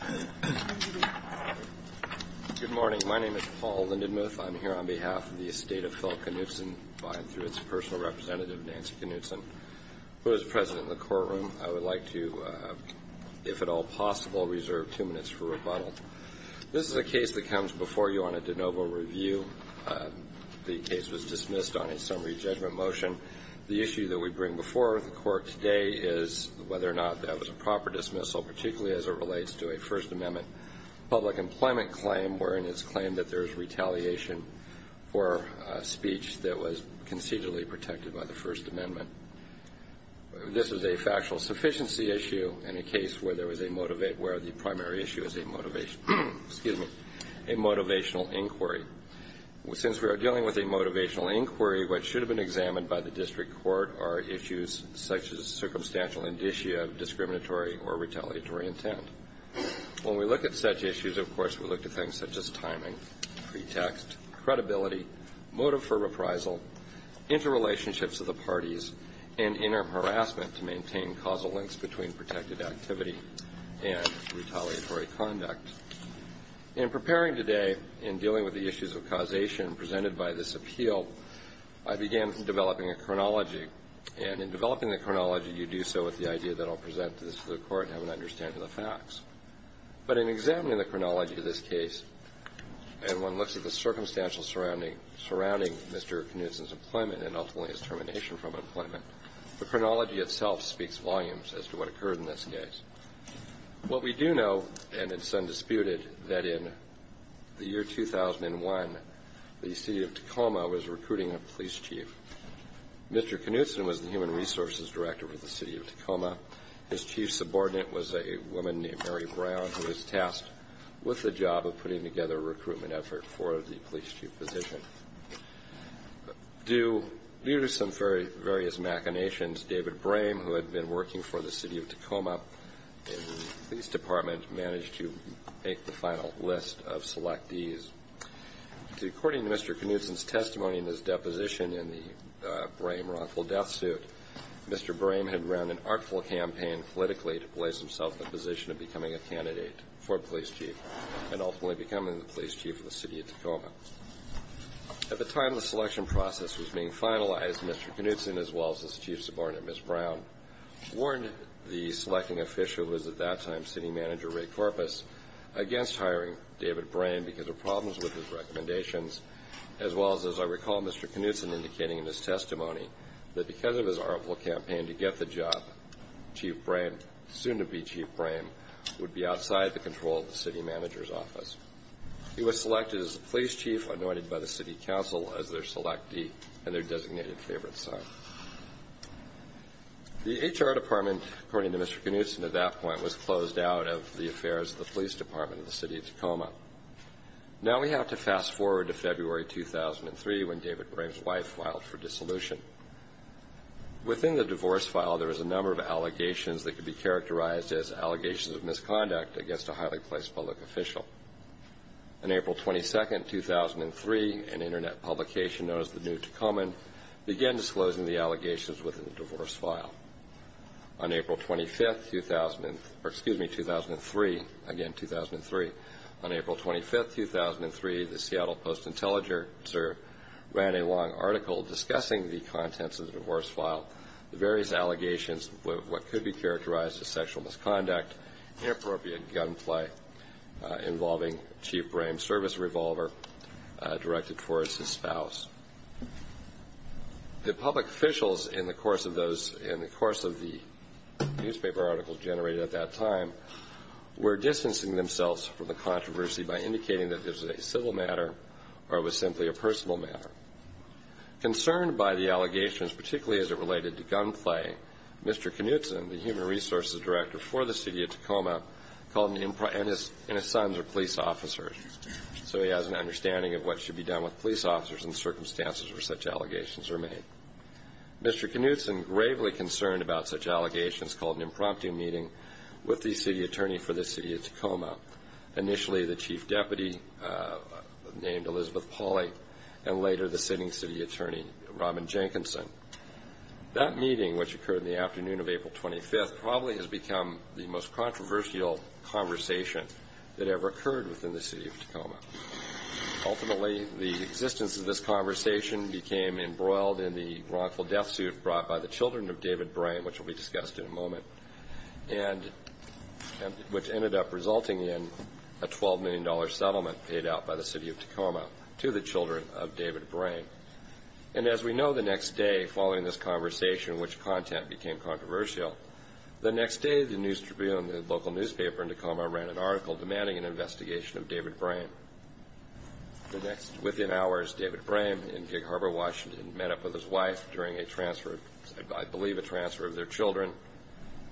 Paul Lindenmuth particularly as it relates to a First Amendment public employment claim wherein it is claimed that there is retaliation for a speech that was concededly protected by the First Amendment. This is a factual sufficiency issue in a case where the primary issue is a motivational inquiry. Since we are dealing with a motivational inquiry, what should have been examined by the district court are issues such as circumstantial indicia of discriminatory or retaliatory intent. When we look at such issues, of course, we look at things such as timing, pretext, credibility, motive for reprisal, interrelationships of the parties, and interim harassment to maintain causal links between protected activity and retaliatory conduct. In preparing today in dealing with the issues of causation presented by this appeal, I began developing a chronology. And in developing the chronology, you do so with the idea that I'll present this to the court and have an understanding of the facts. But in examining the chronology of this case, and one looks at the circumstantial surrounding Mr. Knudsen's employment and ultimately his termination from employment, the chronology itself speaks volumes as to what occurred in this case. What we do know, and it's undisputed, that in the year 2001, the city of Tacoma was recruiting a police chief. Mr. Knudsen was the human resources director for the city of Tacoma. His chief subordinate was a woman named Mary Brown who was tasked with the job of putting together a recruitment effort for the police chief position. Due to some various machinations, David Brame, who had been working for the city of Tacoma in the police department, managed to make the final list of selectees. According to Mr. Knudsen's testimony in his deposition in the Brame wrongful death suit, Mr. Brame had run an artful campaign politically to place himself in the position of becoming a candidate for police chief, and ultimately becoming the police chief of the city of Tacoma. At the time the selection process was being finalized, Mr. Knudsen, as well as his chief subordinate, Ms. Brown, warned the selecting official, who was at that time city manager Ray Corpus, against hiring David Brame because of problems with his recommendations, as well as, as I recall Mr. Knudsen indicating in his testimony, that because of his artful campaign to get the job, Chief Brame, soon to be Chief Brame, would be outside the control of the city manager's office. He was selected as the police chief, anointed by the city council as their selectee and their designated favorite son. The HR department, according to Mr. Knudsen at that point, was closed out of the affairs of the police department of the city of Tacoma. Now we have to fast forward to February 2003 when David Brame's wife filed for dissolution. Within the divorce file there was a number of allegations that could be characterized as allegations of misconduct against a highly placed public official. On April 22, 2003, an internet publication known as the New Tacoma began disclosing the allegations within the divorce file. On April 25, 2003, the Seattle Post-Intelligencer ran a long article discussing the contents of the divorce file, the various allegations of what could be characterized as sexual misconduct, inappropriate gunplay involving Chief Brame's service revolver directed towards his spouse. The public officials in the course of the newspaper articles generated at that time were distancing themselves from the controversy by indicating that this was a civil matter or it was simply a personal matter. Concerned by the allegations, particularly as it related to gunplay, Mr. Knudsen, the human resources director for the city of Tacoma, and his sons are police officers, so he has an understanding of what should be done with police officers in circumstances where such allegations are made. Mr. Knudsen gravely concerned about such allegations called an impromptu meeting with the city attorney for the city of Tacoma, initially the chief deputy named Elizabeth Pauley, and later the sitting city attorney, Robin Jenkinson. That meeting, which occurred in the afternoon of April 25, probably has become the most controversial conversation that ever occurred within the city of Tacoma. Ultimately, the existence of this conversation became embroiled in the wrongful death suit brought by the children of David Brame, which will be discussed in a moment, which ended up resulting in a $12 million settlement paid out by the city of Tacoma to the children of David Brame. And as we know, the next day following this conversation, which content became controversial, the next day the local newspaper in Tacoma ran an article demanding an investigation of David Brame. Within hours, David Brame in Gig Harbor, Washington, met up with his wife during a transfer, I believe a transfer of their children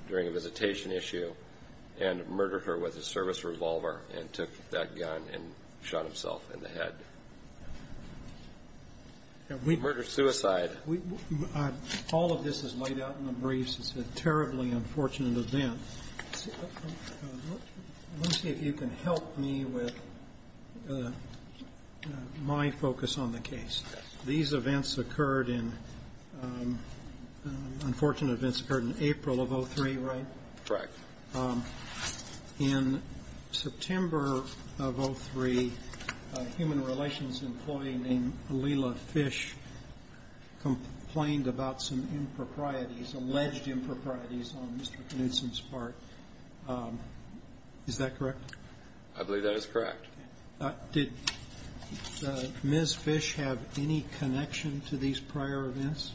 during a visitation issue, and murdered her with a service revolver and took that gun and shot himself in the head. Murder, suicide. All of this is laid out in the briefs. It's a terribly unfortunate event. Let me see if you can help me with my focus on the case. These events occurred in, unfortunate events occurred in April of 03, right? Correct. In September of 03, a human relations employee named Alila Fish complained about some improprieties, alleged improprieties on Mr. Knudson's part. Is that correct? I believe that is correct. Did Ms. Fish have any connection to these prior events?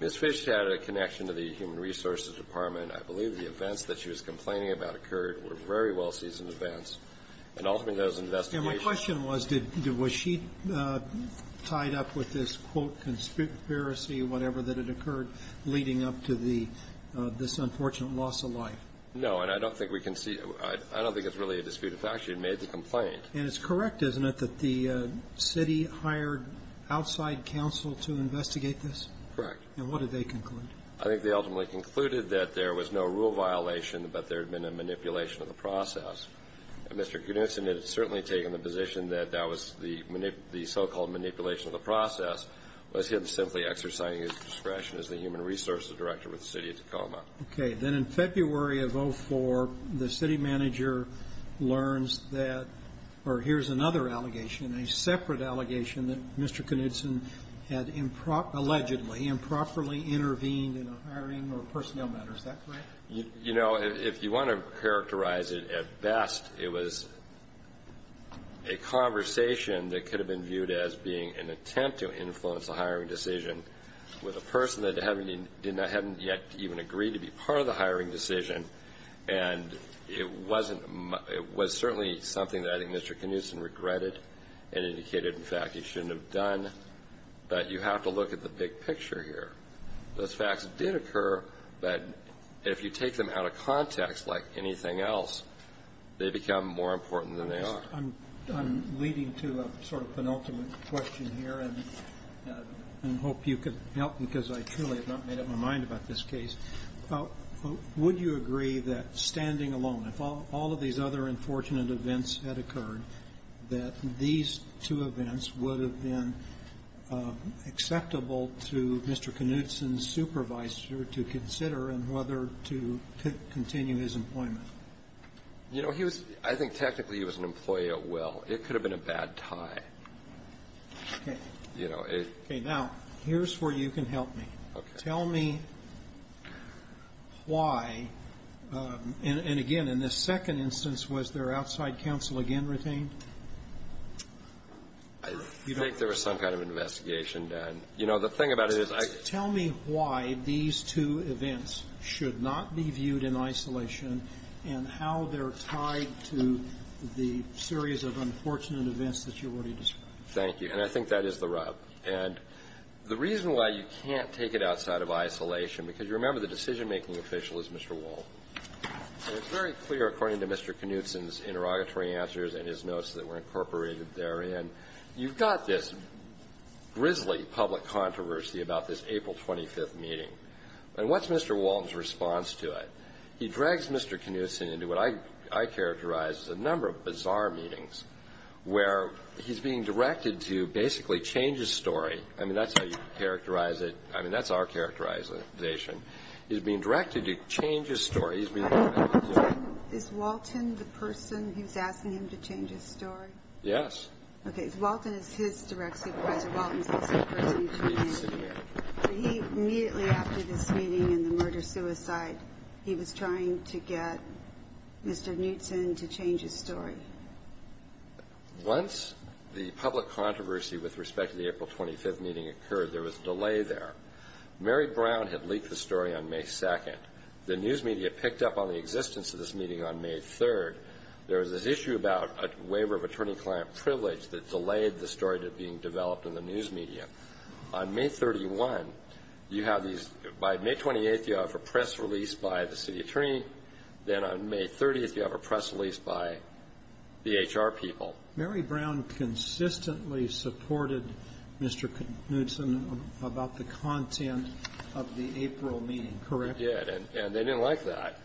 Ms. Fish had a connection to the human resources department. I believe the events that she was complaining about occurred were very well-seasoned events, and ultimately those investigations My question was, was she tied up with this, quote, conspiracy or whatever that had occurred leading up to this unfortunate loss of life? No, and I don't think we can see, I don't think it's really a disputed fact. She had made the complaint. And it's correct, isn't it, that the city hired outside counsel to investigate this? Correct. And what did they conclude? I think they ultimately concluded that there was no rule violation, but there had been a manipulation of the process. And Mr. Knudson had certainly taken the position that that was the so-called manipulation of the process, was him simply exercising his discretion as the human resources director with the City of Tacoma. Okay. Then in February of 04, the city manager learns that, or here's another allegation, a separate allegation that Mr. Knudson had allegedly improperly intervened in a hiring or personnel matter. Is that correct? You know, if you want to characterize it at best, it was a conversation that could have been viewed as being an attempt to influence a hiring decision with a person that hadn't yet even agreed to be part of the hiring decision. And it was certainly something that I think Mr. Knudson regretted and indicated, in fact, he shouldn't have done. But you have to look at the big picture here. Those facts did occur, but if you take them out of context like anything else, they become more important than they are. I'm leading to a sort of penultimate question here, and I hope you can help, because I truly have not made up my mind about this case. Would you agree that standing alone, if all of these other unfortunate events had occurred, that these two events would have been acceptable to Mr. Knudson's supervisor to consider in whether to continue his employment? You know, he was – I think technically he was an employee at will. It could have been a bad tie. Okay. You know, it – Now, here's where you can help me. Okay. Tell me why – and again, in this second instance, was there outside counsel again retained? I think there was some kind of investigation, Dan. You know, the thing about it is I – Tell me why these two events should not be viewed in isolation and how they're tied to the series of unfortunate events that you already described. Thank you. And I think that is the rub. And the reason why you can't take it outside of isolation, because you remember the decision-making official is Mr. Walton. And it's very clear, according to Mr. Knudson's interrogatory answers and his notes that were incorporated therein, you've got this grisly public controversy about this April 25th meeting. And what's Mr. Walton's response to it? He drags Mr. Knudson into what I characterize as a number of bizarre meetings where he's being directed to basically change his story. I mean, that's how you characterize it. I mean, that's our characterization. He's being directed to change his story. He's being directed to – Is Walton the person who's asking him to change his story? Yes. Okay. Walton is his direct supervisor. Walton is also the person who came in. He's the city manager. Immediately after this meeting and the murder-suicide, he was trying to get Mr. Knudson to change his story. Once the public controversy with respect to the April 25th meeting occurred, there was a delay there. Mary Brown had leaked the story on May 2nd. The news media picked up on the existence of this meeting on May 3rd. There was this issue about a waiver of attorney-client privilege that delayed the story being developed in the news media. On May 31, you have these – by May 28th, you have a press release by the city attorney. Then on May 30th, you have a press release by the HR people. Mary Brown consistently supported Mr. Knudson about the content of the April meeting, correct? She did, and they didn't like that.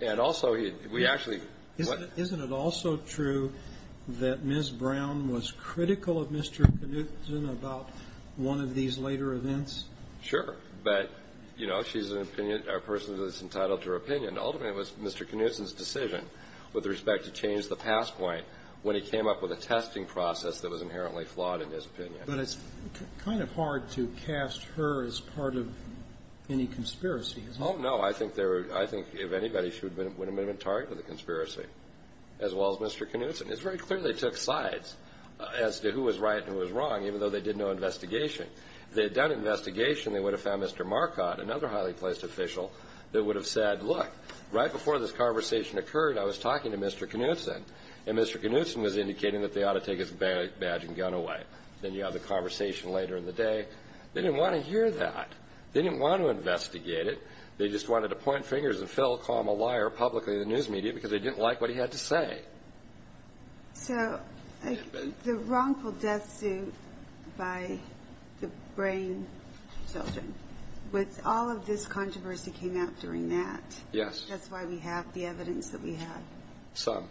And also, we actually – Isn't it also true that Ms. Brown was critical of Mr. Knudson about one of these later events? Sure. But, you know, she's an opinion – a person who is entitled to her opinion. Ultimately, it was Mr. Knudson's decision with respect to change the past point when he came up with a testing process that was inherently flawed in his opinion. But it's kind of hard to cast her as part of any conspiracy, isn't it? Oh, no. I think if anybody, she would have been a target of the conspiracy, as well as Mr. Knudson. It's very clear they took sides as to who was right and who was wrong, even though they did no investigation. If they had done an investigation, they would have found Mr. Marcotte, another highly-placed official, that would have said, look, right before this conversation occurred, I was talking to Mr. Knudson, and Mr. Knudson was indicating that they ought to take his badge and gun away. Then you have the conversation later in the day. They didn't want to hear that. They didn't want to investigate it. They just wanted to point fingers and fill, call him a liar publicly in the news media because they didn't like what he had to say. So the wrongful death suit by the brain children, with all of this controversy came out during that. Yes. That's why we have the evidence that we have. Some.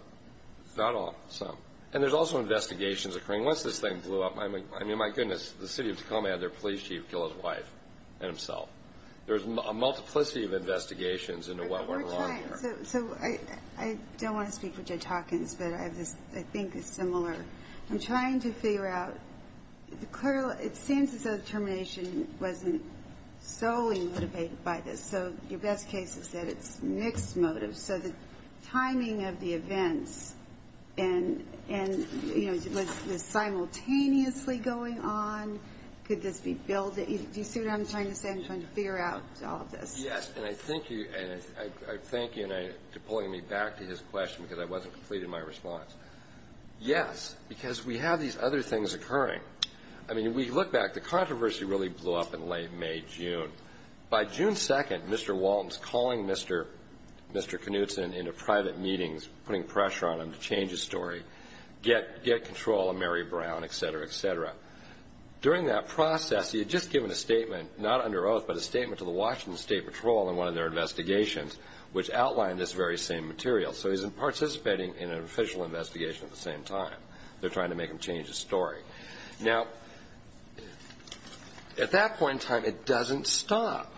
Not all. Some. And there's also investigations occurring. Once this thing blew up, I mean, my goodness, the city of Tacoma had their police chief kill his wife and himself. There's a multiplicity of investigations into what went wrong here. So I don't want to speak for Judge Hawkins, but I think it's similar. I'm trying to figure out, it seems as though the termination wasn't solely motivated by this. So your best case is that it's mixed motives. So the timing of the events and, you know, was this simultaneously going on? Could this be built? Do you see what I'm trying to say? I'm trying to figure out all of this. Yes, and I thank you. And I thank you for pulling me back to his question because I wasn't complete in my response. Yes, because we have these other things occurring. I mean, if we look back, the controversy really blew up in late May, June. By June 2nd, Mr. Walton's calling Mr. Knutson into private meetings, putting pressure on him to change his story, get control of Mary Brown, et cetera, et cetera. During that process, he had just given a statement, not under oath, but a statement to the Washington State Patrol in one of their investigations, which outlined this very same material. So he's participating in an official investigation at the same time. They're trying to make him change his story. Now, at that point in time, it doesn't stop.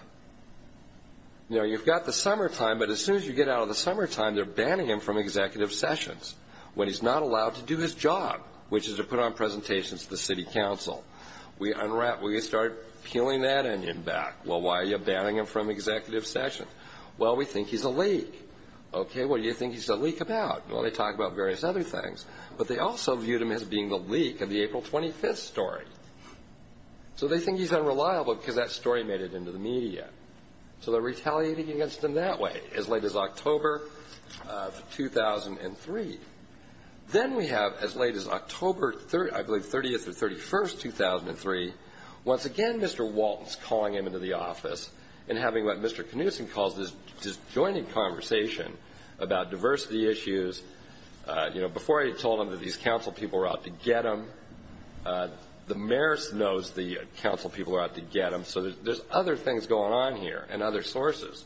You know, you've got the summertime, but as soon as you get out of the summertime, they're banning him from executive sessions when he's not allowed to do his job, which is to put on presentations to the city council. We start peeling that onion back. Well, why are you banning him from executive sessions? Well, we think he's a leak. Okay, what do you think he's a leak about? Well, they talk about various other things, but they also viewed him as being the leak of the April 25th story. So they think he's unreliable because that story made it into the media. So they're retaliating against him that way as late as October of 2003. Then we have as late as October, I believe, 30th or 31st, 2003, once again Mr. Walton's calling him into the office and having what Mr. Knudson calls this disjointed conversation about diversity issues. You know, before I had told him that these council people were out to get him. The mayor knows the council people are out to get him. So there's other things going on here and other sources.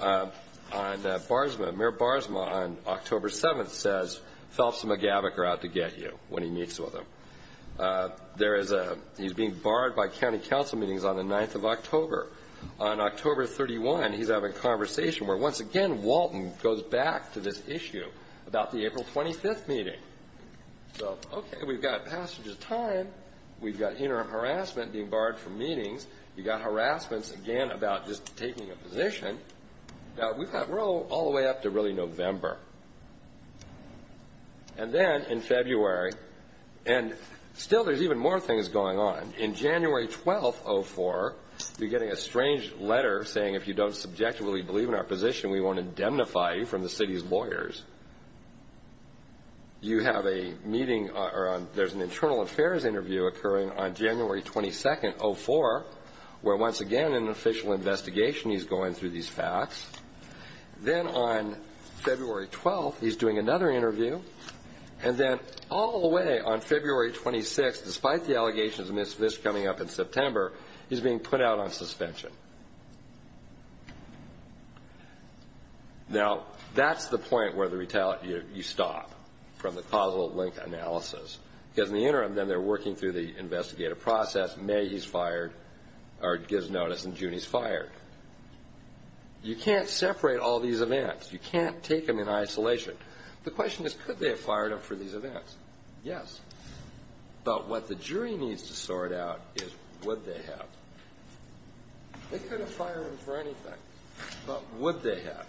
Mayor Barsma on October 7th says, Phelps and McGavock are out to get you when he meets with him. He's being barred by county council meetings on the 9th of October. On October 31, he's having a conversation where, once again, Walton goes back to this issue about the April 25th meeting. So, okay, we've got passage of time. We've got interim harassment being barred from meetings. You've got harassments, again, about just taking a position. Now, we've got, we're all the way up to really November. And then in February, and still there's even more things going on. In January 12th, 04, you're getting a strange letter saying, If you don't subjectively believe in our position, we won't indemnify you from the city's lawyers. You have a meeting, or there's an internal affairs interview occurring on January 22nd, 04, where, once again, an official investigation is going through these facts. Then on February 12th, he's doing another interview. And then all the way on February 26th, despite the allegations of this coming up in September, he's being put out on suspension. Now, that's the point where you stop from the causal link analysis. Because in the interim, then they're working through the investigative process. May, he's fired, or gives notice in June, he's fired. You can't separate all these events. You can't take them in isolation. The question is, could they have fired him for these events? Yes. But what the jury needs to sort out is, would they have? They could have fired him for anything. But would they have?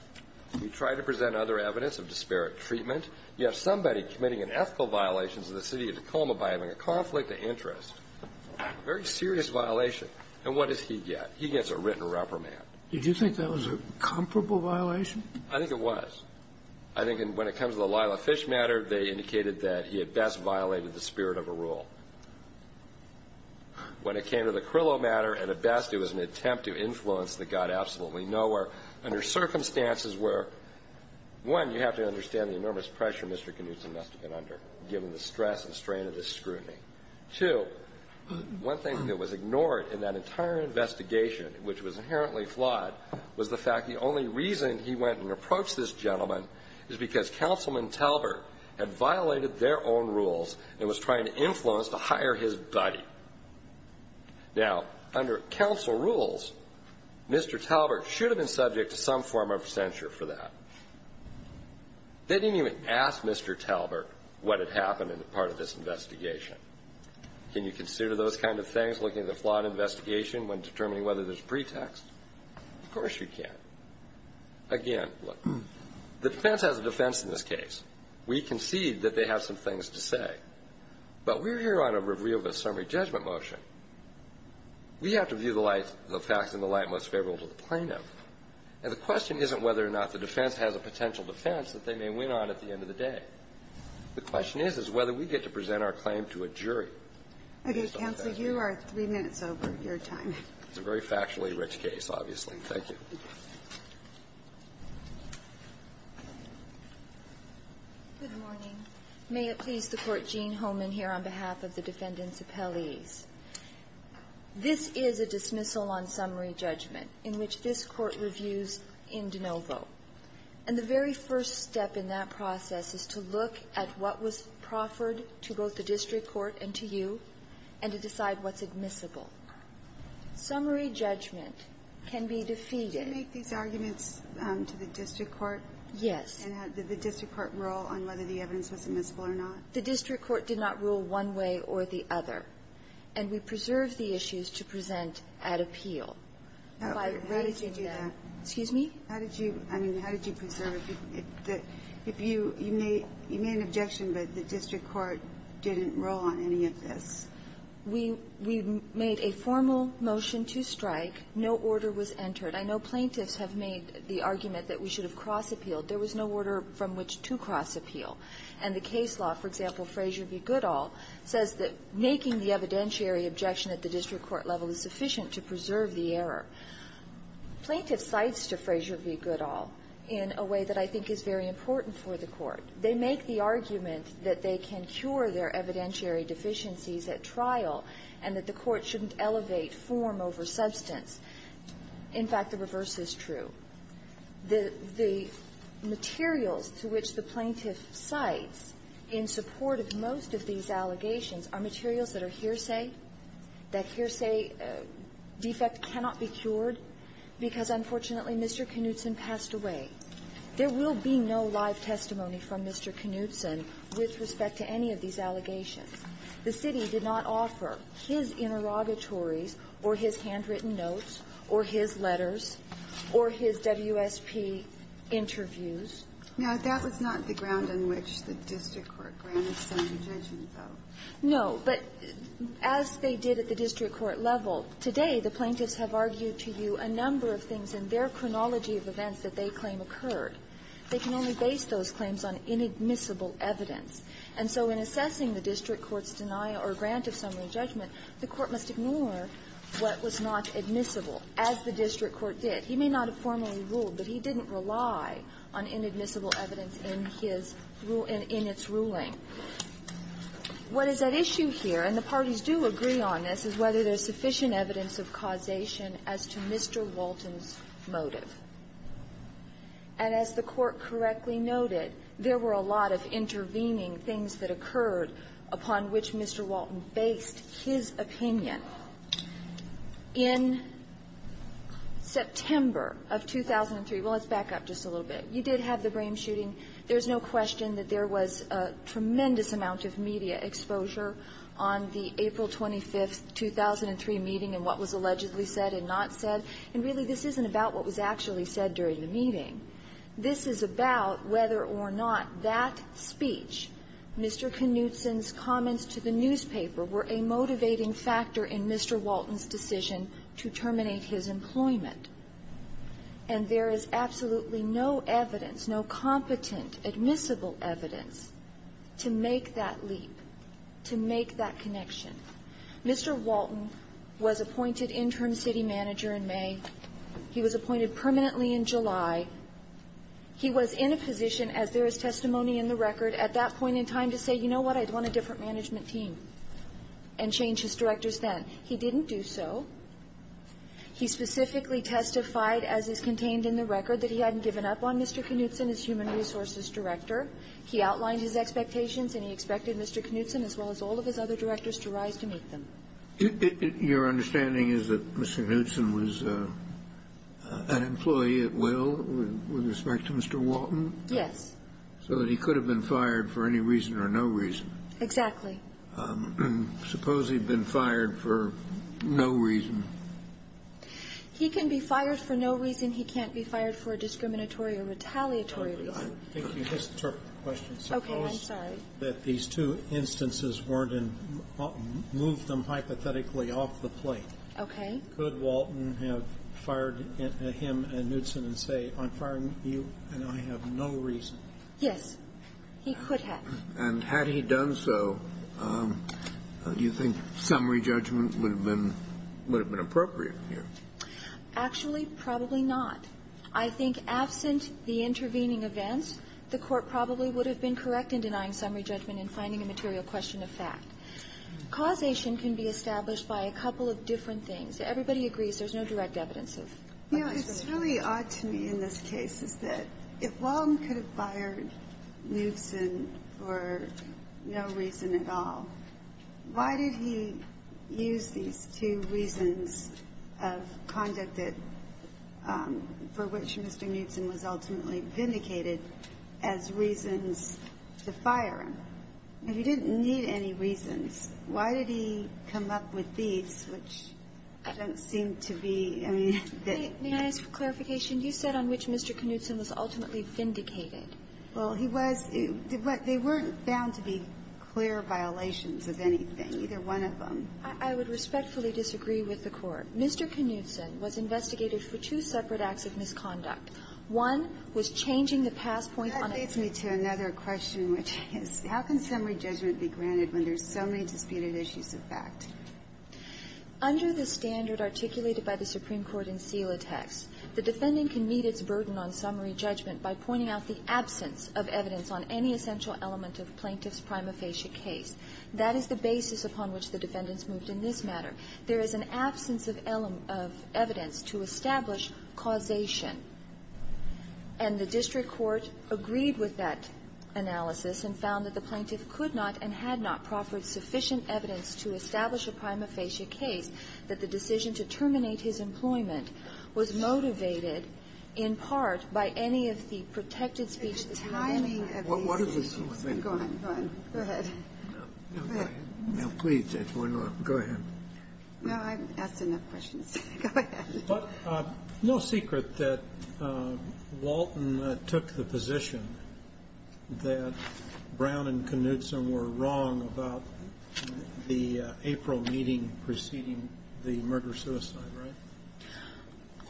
You try to present other evidence of disparate treatment. You have somebody committing unethical violations of the city of Tacoma by having a conflict of interest. Very serious violation. And what does he get? He gets a written reprimand. Did you think that was a comparable violation? I think it was. I think when it comes to the Lila Fish matter, they indicated that he had best violated the spirit of a rule. When it came to the Crillo matter, at best, it was an attempt to influence that got absolutely nowhere under circumstances where, one, you have to understand the enormous pressure Mr. Knutson must have been under, given the stress and strain of this scrutiny. Two, one thing that was ignored in that entire investigation, which was inherently flawed, was the fact the only reason he went and approached this gentleman is because Councilman Talbert had violated their own rules and was trying to influence to hire his buddy. Now, under counsel rules, Mr. Talbert should have been subject to some form of censure for that. They didn't even ask Mr. Talbert what had happened in the part of this investigation. Can you consider those kind of things, looking at the flawed investigation when determining whether there's pretext? Of course you can. Again, look, the defense has a defense in this case. We concede that they have some things to say. But we're here on a review of a summary judgment motion. We have to view the facts in the light most favorable to the plaintiff. And the question isn't whether or not the defense has a potential defense that they may win on at the end of the day. The question is, is whether we get to present our claim to a jury. Okay. Counsel, you are three minutes over your time. It's a very factually rich case, obviously. Thank you. Good morning. May it please the Court, Gene Homan here on behalf of the defendants' appellees. This is a dismissal on summary judgment in which this Court reviews in de novo. And the very first step in that process is to look at what was proffered to both the district court and to you and to decide what's admissible. Summary judgment can be defeated. Did you make these arguments to the district court? Yes. And did the district court rule on whether the evidence was admissible or not? The district court did not rule one way or the other. And we preserved the issues to present at appeal. How did you do that? Excuse me? How did you do that? I mean, how did you preserve it? If you made an objection, but the district court didn't rule on any of this. We made a formal motion to strike. No order was entered. I know plaintiffs have made the argument that we should have cross-appealed. There was no order from which to cross-appeal. And the case law, for example, Frazier v. Goodall, says that making the evidentiary objection at the district court level is sufficient to preserve the error. Plaintiff cites to Frazier v. Goodall in a way that I think is very important for the Court. They make the argument that they can cure their evidentiary deficiencies at trial and that the Court shouldn't elevate form over substance. In fact, the reverse is true. The materials to which the plaintiff cites in support of most of these allegations are materials that are hearsay, that hearsay defect cannot be cured because, unfortunately, Mr. Knutson passed away. There will be no live testimony from Mr. Knutson with respect to any of these allegations. The city did not offer his interrogatories or his handwritten notes or his letters or his WSP interviews. Now, that was not the ground on which the district court granted some of the judgments, though. No. But as they did at the district court level, today the plaintiffs have argued to you a number of things in their chronology of events that they claim occurred. They can only base those claims on inadmissible evidence. And so in assessing the district court's denial or grant of summary judgment, the court must ignore what was not admissible, as the district court did. He may not have formally ruled, but he didn't rely on inadmissible evidence in his ruling, in its ruling. What is at issue here, and the parties do agree on this, is whether there's sufficient evidence of causation as to Mr. Walton's motive. And as the Court correctly noted, there were a lot of intervening things that occurred upon which Mr. Walton based his opinion. In September of 2003, well, let's back up just a little bit. You did have the Brame shooting. There's no question that there was a tremendous amount of media exposure on the April 25, 2003 meeting in what was allegedly said and not said. And really, this isn't about what was actually said during the meeting. This is about whether or not that speech, Mr. Knutson's comments to the newspaper, were a motivating factor in Mr. Walton's decision to terminate his employment. And there is absolutely no evidence, no competent admissible evidence to make that connection. Mr. Walton was appointed interim city manager in May. He was appointed permanently in July. He was in a position, as there is testimony in the record, at that point in time to say, you know what, I'd want a different management team, and change his directors then. He didn't do so. He specifically testified, as is contained in the record, that he hadn't given up on Mr. Knutson as human resources director. He outlined his expectations, and he expected Mr. Knutson, as well as all of his other directors, to rise to meet them. Your understanding is that Mr. Knutson was an employee at will with respect to Mr. Walton? Yes. So that he could have been fired for any reason or no reason? Exactly. Suppose he'd been fired for no reason? He can be fired for no reason. He can't be fired for a discriminatory or retaliatory reason. I think you misinterpreted the question. Okay. I'm sorry. Suppose that these two instances weren't in – moved them hypothetically off the plate. Okay. Could Walton have fired him and Knutson and say, I'm firing you, and I have no reason? Yes. He could have. And had he done so, do you think summary judgment would have been appropriate here? Actually, probably not. I think absent the intervening events, the Court probably would have been correct in denying summary judgment and finding a material question of fact. Causation can be established by a couple of different things. Everybody agrees there's no direct evidence of a misjudgment. You know, it's really odd to me in this case is that if Walton could have fired Knutson for no reason at all, why did he use these two reasons of conduct that – for which Mr. Knutson was ultimately vindicated as reasons to fire him? If he didn't need any reasons, why did he come up with these, which don't seem to be – I mean, that – May I ask for clarification? You said on which Mr. Knutson was ultimately vindicated. Well, he was – they weren't found to be clear violations of anything, either I would respectfully disagree with the Court. Mr. Knutson was investigated for two separate acts of misconduct. One was changing the passpoint on a – That leads me to another question, which is, how can summary judgment be granted when there's so many disputed issues of fact? Under the standard articulated by the Supreme Court in Selah text, the defendant can meet its burden on summary judgment by pointing out the absence of evidence on any essential element of the plaintiff's prima facie case. That is the basis upon which the defendants moved in this matter. There is an absence of evidence to establish causation. And the district court agreed with that analysis and found that the plaintiff could not and had not proffered sufficient evidence to establish a prima facie case that the decision to terminate his employment was motivated in part by any of the protected speech that he had given. The timing of these is gone. Go ahead. Now, please, Judge, why not? Go ahead. Well, I've asked enough questions. Go ahead. But no secret that Walton took the position that Brown and Knutson were wrong about the April meeting preceding the murder-suicide, right?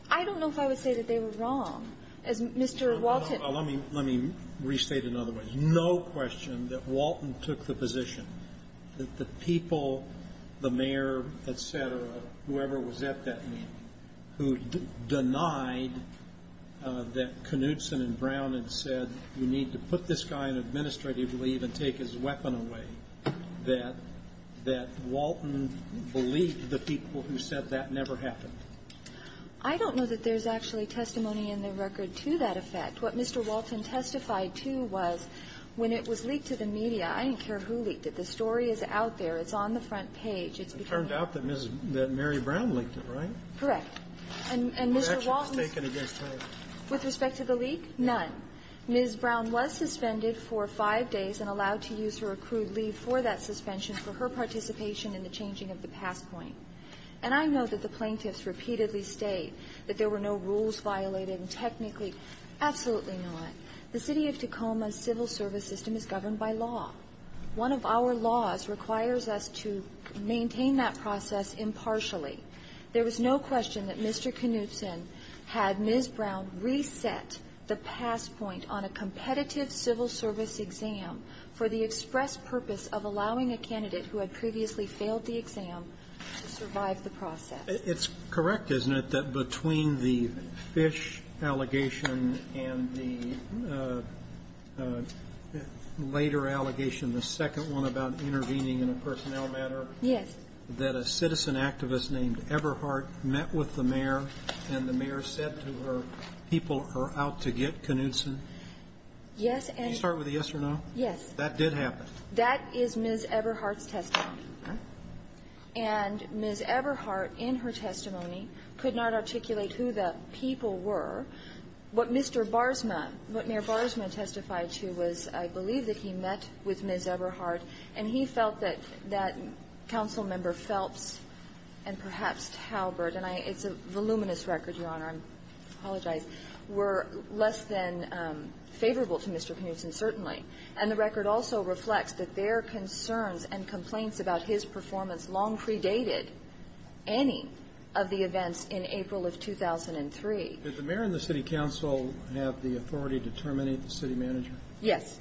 I don't know if I would say that they were wrong. As Mr. Walton – Well, let me restate another way. There is no question that Walton took the position that the people, the mayor, et cetera, whoever was at that meeting, who denied that Knutson and Brown had said you need to put this guy in administrative leave and take his weapon away, that Walton believed the people who said that never happened. I don't know that there's actually testimony in the record to that effect. What Mr. Walton testified to was when it was leaked to the media, I didn't care who leaked it. The story is out there. It's on the front page. It's been – It turned out that Mrs. – that Mary Brown leaked it, right? Correct. And Mr. Walton's – What action was taken against her? With respect to the leak? None. Ms. Brown was suspended for five days and allowed to use her accrued leave for that suspension for her participation in the changing of the passpoint. And I know that the plaintiffs repeatedly state that there were no rules violated and technically – absolutely not. The City of Tacoma's civil service system is governed by law. One of our laws requires us to maintain that process impartially. There was no question that Mr. Knutson had Ms. Brown reset the passpoint on a competitive civil service exam for the express purpose of allowing a candidate who had previously failed the exam to survive the process. It's correct, isn't it, that between the Fish allegation and the later allegation, the second one about intervening in a personnel matter? Yes. That a citizen activist named Eberhardt met with the mayor, and the mayor said to her, people are out to get Knutson? Yes, and – Can you start with a yes or no? Yes. That did happen. That is Ms. Eberhardt's testimony. Okay. And Ms. Eberhardt, in her testimony, could not articulate who the people were. What Mr. Barsma – what Mayor Barsma testified to was, I believe, that he met with Ms. Eberhardt, and he felt that that council member Phelps and perhaps Talbert – and it's a voluminous record, Your Honor, I apologize – were less than favorable to Mr. Knutson, certainly. And the record also reflects that their concerns and complaints about his performance long predated any of the events in April of 2003. Did the mayor and the city council have the authority to terminate the city manager? Yes.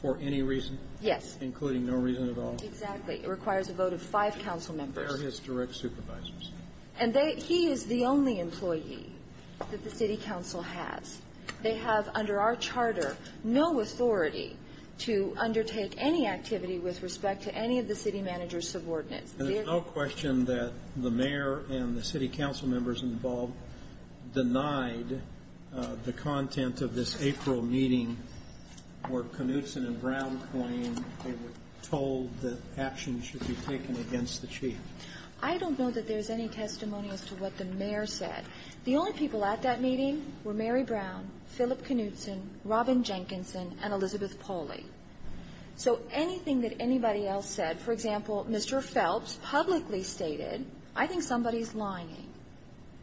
For any reason? Yes. Including no reason at all? Exactly. It requires a vote of five council members. They're his direct supervisors. And they – he is the only employee that the city council has. They have, under our charter, no authority to undertake any activity with respect to any of the city manager's subordinates. And there's no question that the mayor and the city council members involved denied the content of this April meeting where Knutson and Brown claim they were told that actions should be taken against the chief. I don't know that there's any testimony as to what the mayor said. The only people at that meeting were Mary Brown, Philip Knutson, Robin Jenkinson, and Elizabeth Pauley. So anything that anybody else said – for example, Mr. Phelps publicly stated, I think somebody's lying.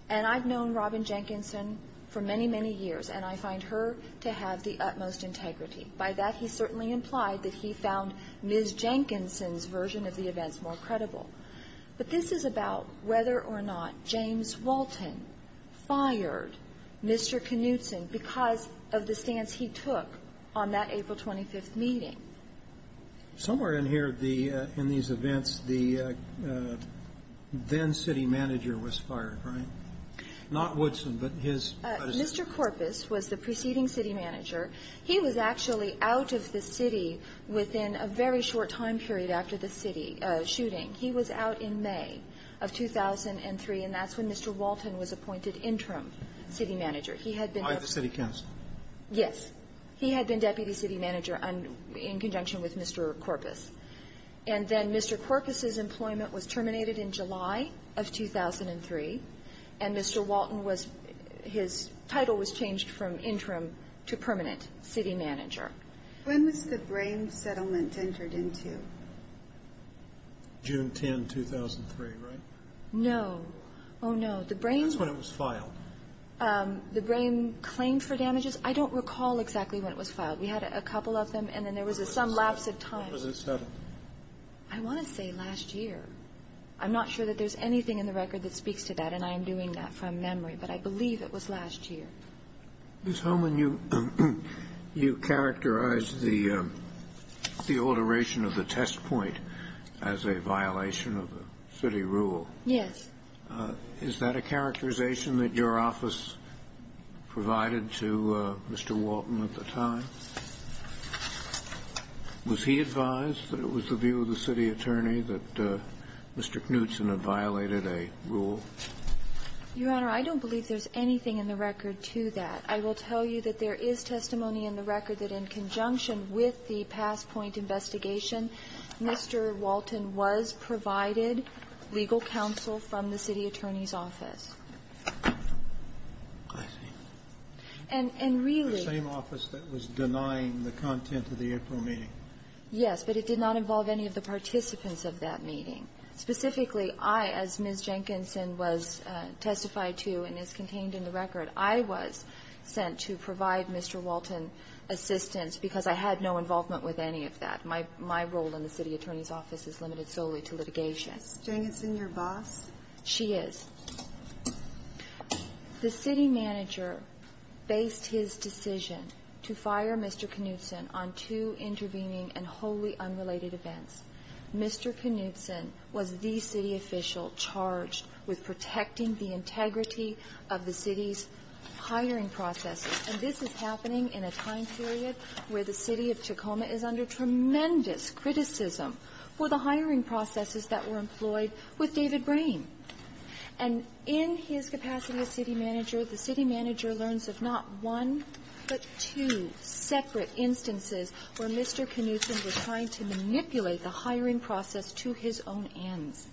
And I've known Robin Jenkinson for many, many years. And I find her to have the utmost integrity. By that, he certainly implied that he found Ms. Jenkinson's version of the events more credible. But this is about whether or not James Walton fired Mr. Knutson because of the stance he took on that April 25th meeting. Somewhere in here, the – in these events, the then city manager was fired, right? Not Woodson, but his – Mr. Korpis was the preceding city manager. He was actually out of the city within a very short time period after the city shooting. He was out in May of 2003, and that's when Mr. Walton was appointed interim city manager. He had been – By the city council. Yes. He had been deputy city manager in conjunction with Mr. Korpis. And then Mr. Korpis's employment was terminated in July of 2003, and Mr. Walton was – his title was changed from interim to permanent city manager. When was the Brame settlement entered into? June 10, 2003, right? No. Oh, no. The Brame – That's when it was filed. The Brame claim for damages, I don't recall exactly when it was filed. We had a couple of them, and then there was some lapse of time. When was it settled? I want to say last year. I'm not sure that there's anything in the record that speaks to that, and I am doing that from memory, but I believe it was last year. Ms. Holman, you characterized the alteration of the test point as a violation of the city rule. Yes. Is that a characterization that your office provided to Mr. Walton at the time? Was he advised that it was the view of the city attorney that Mr. Knutson had violated a rule? Your Honor, I don't believe there's anything in the record to that. I will tell you that there is testimony in the record that in conjunction with the passpoint investigation, Mr. Walton was provided legal counsel from the city attorney's office. I see. And really – The same office that was denying the content of the April meeting. Yes, but it did not involve any of the participants of that meeting. Specifically, I, as Ms. Jenkinson was testified to and is contained in the record, I was sent to provide Mr. Walton assistance because I had no involvement with any of that. My role in the city attorney's office is limited solely to litigation. Is Ms. Jenkinson your boss? She is. The city manager based his decision to fire Mr. Knutson on two intervening and wholly unrelated events. Mr. Knutson was the city official charged with protecting the integrity of the city's hiring processes. And this is happening in a time period where the city of Tacoma is under tremendous criticism for the hiring processes that were employed with David Brame. And in his capacity as city manager, the city manager learns of not one, but two separate instances where Mr. Knutson was trying to manipulate the hiring process to his own ends.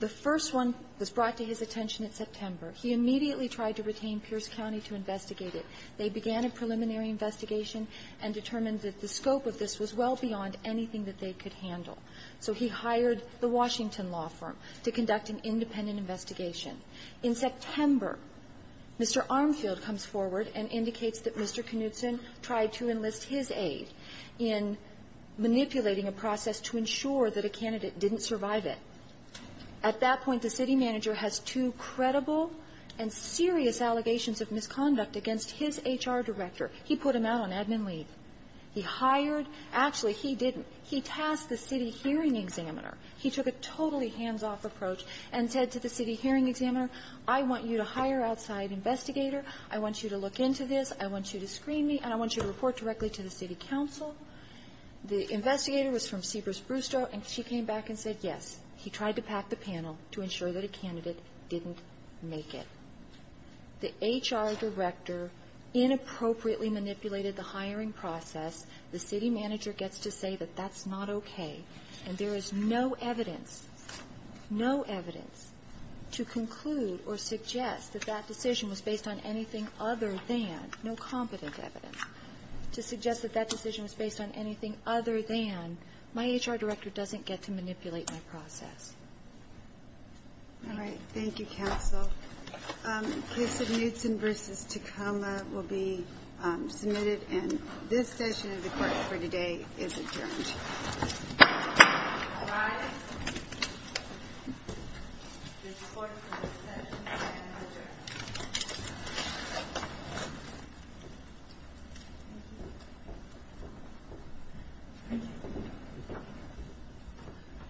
The first one was brought to his attention in September. He immediately tried to retain Pierce County to investigate it. They began a preliminary investigation and determined that the scope of this was well beyond anything that they could handle. So he hired the Washington law firm to conduct an independent investigation. In September, Mr. Armfield comes forward and indicates that Mr. Knutson tried to enlist his aid in manipulating a process to ensure that a candidate didn't survive it. At that point, the city manager has two credible and serious allegations of misconduct against his HR director. He put him out on admin leave. He hired – actually, he didn't. He tasked the city hearing examiner. He took a totally hands-off approach and said to the city hearing examiner, I want you to hire outside investigator. I want you to look into this. I want you to screen me, and I want you to report directly to the city council. The investigator was from Sebris-Brusto. And she came back and said, yes, he tried to pack the panel to ensure that a candidate didn't make it. The HR director inappropriately manipulated the hiring process. The city manager gets to say that that's not okay. And there is no evidence, no evidence to conclude or suggest that that decision was based on anything other than – no competent evidence to suggest that that decision was based on anything other than my HR director doesn't get to manipulate my process. All right. Thank you, counsel. The case of Knutson v. Tacoma will be submitted. And this session of the court for today is adjourned. All rise. The court for this session has adjourned.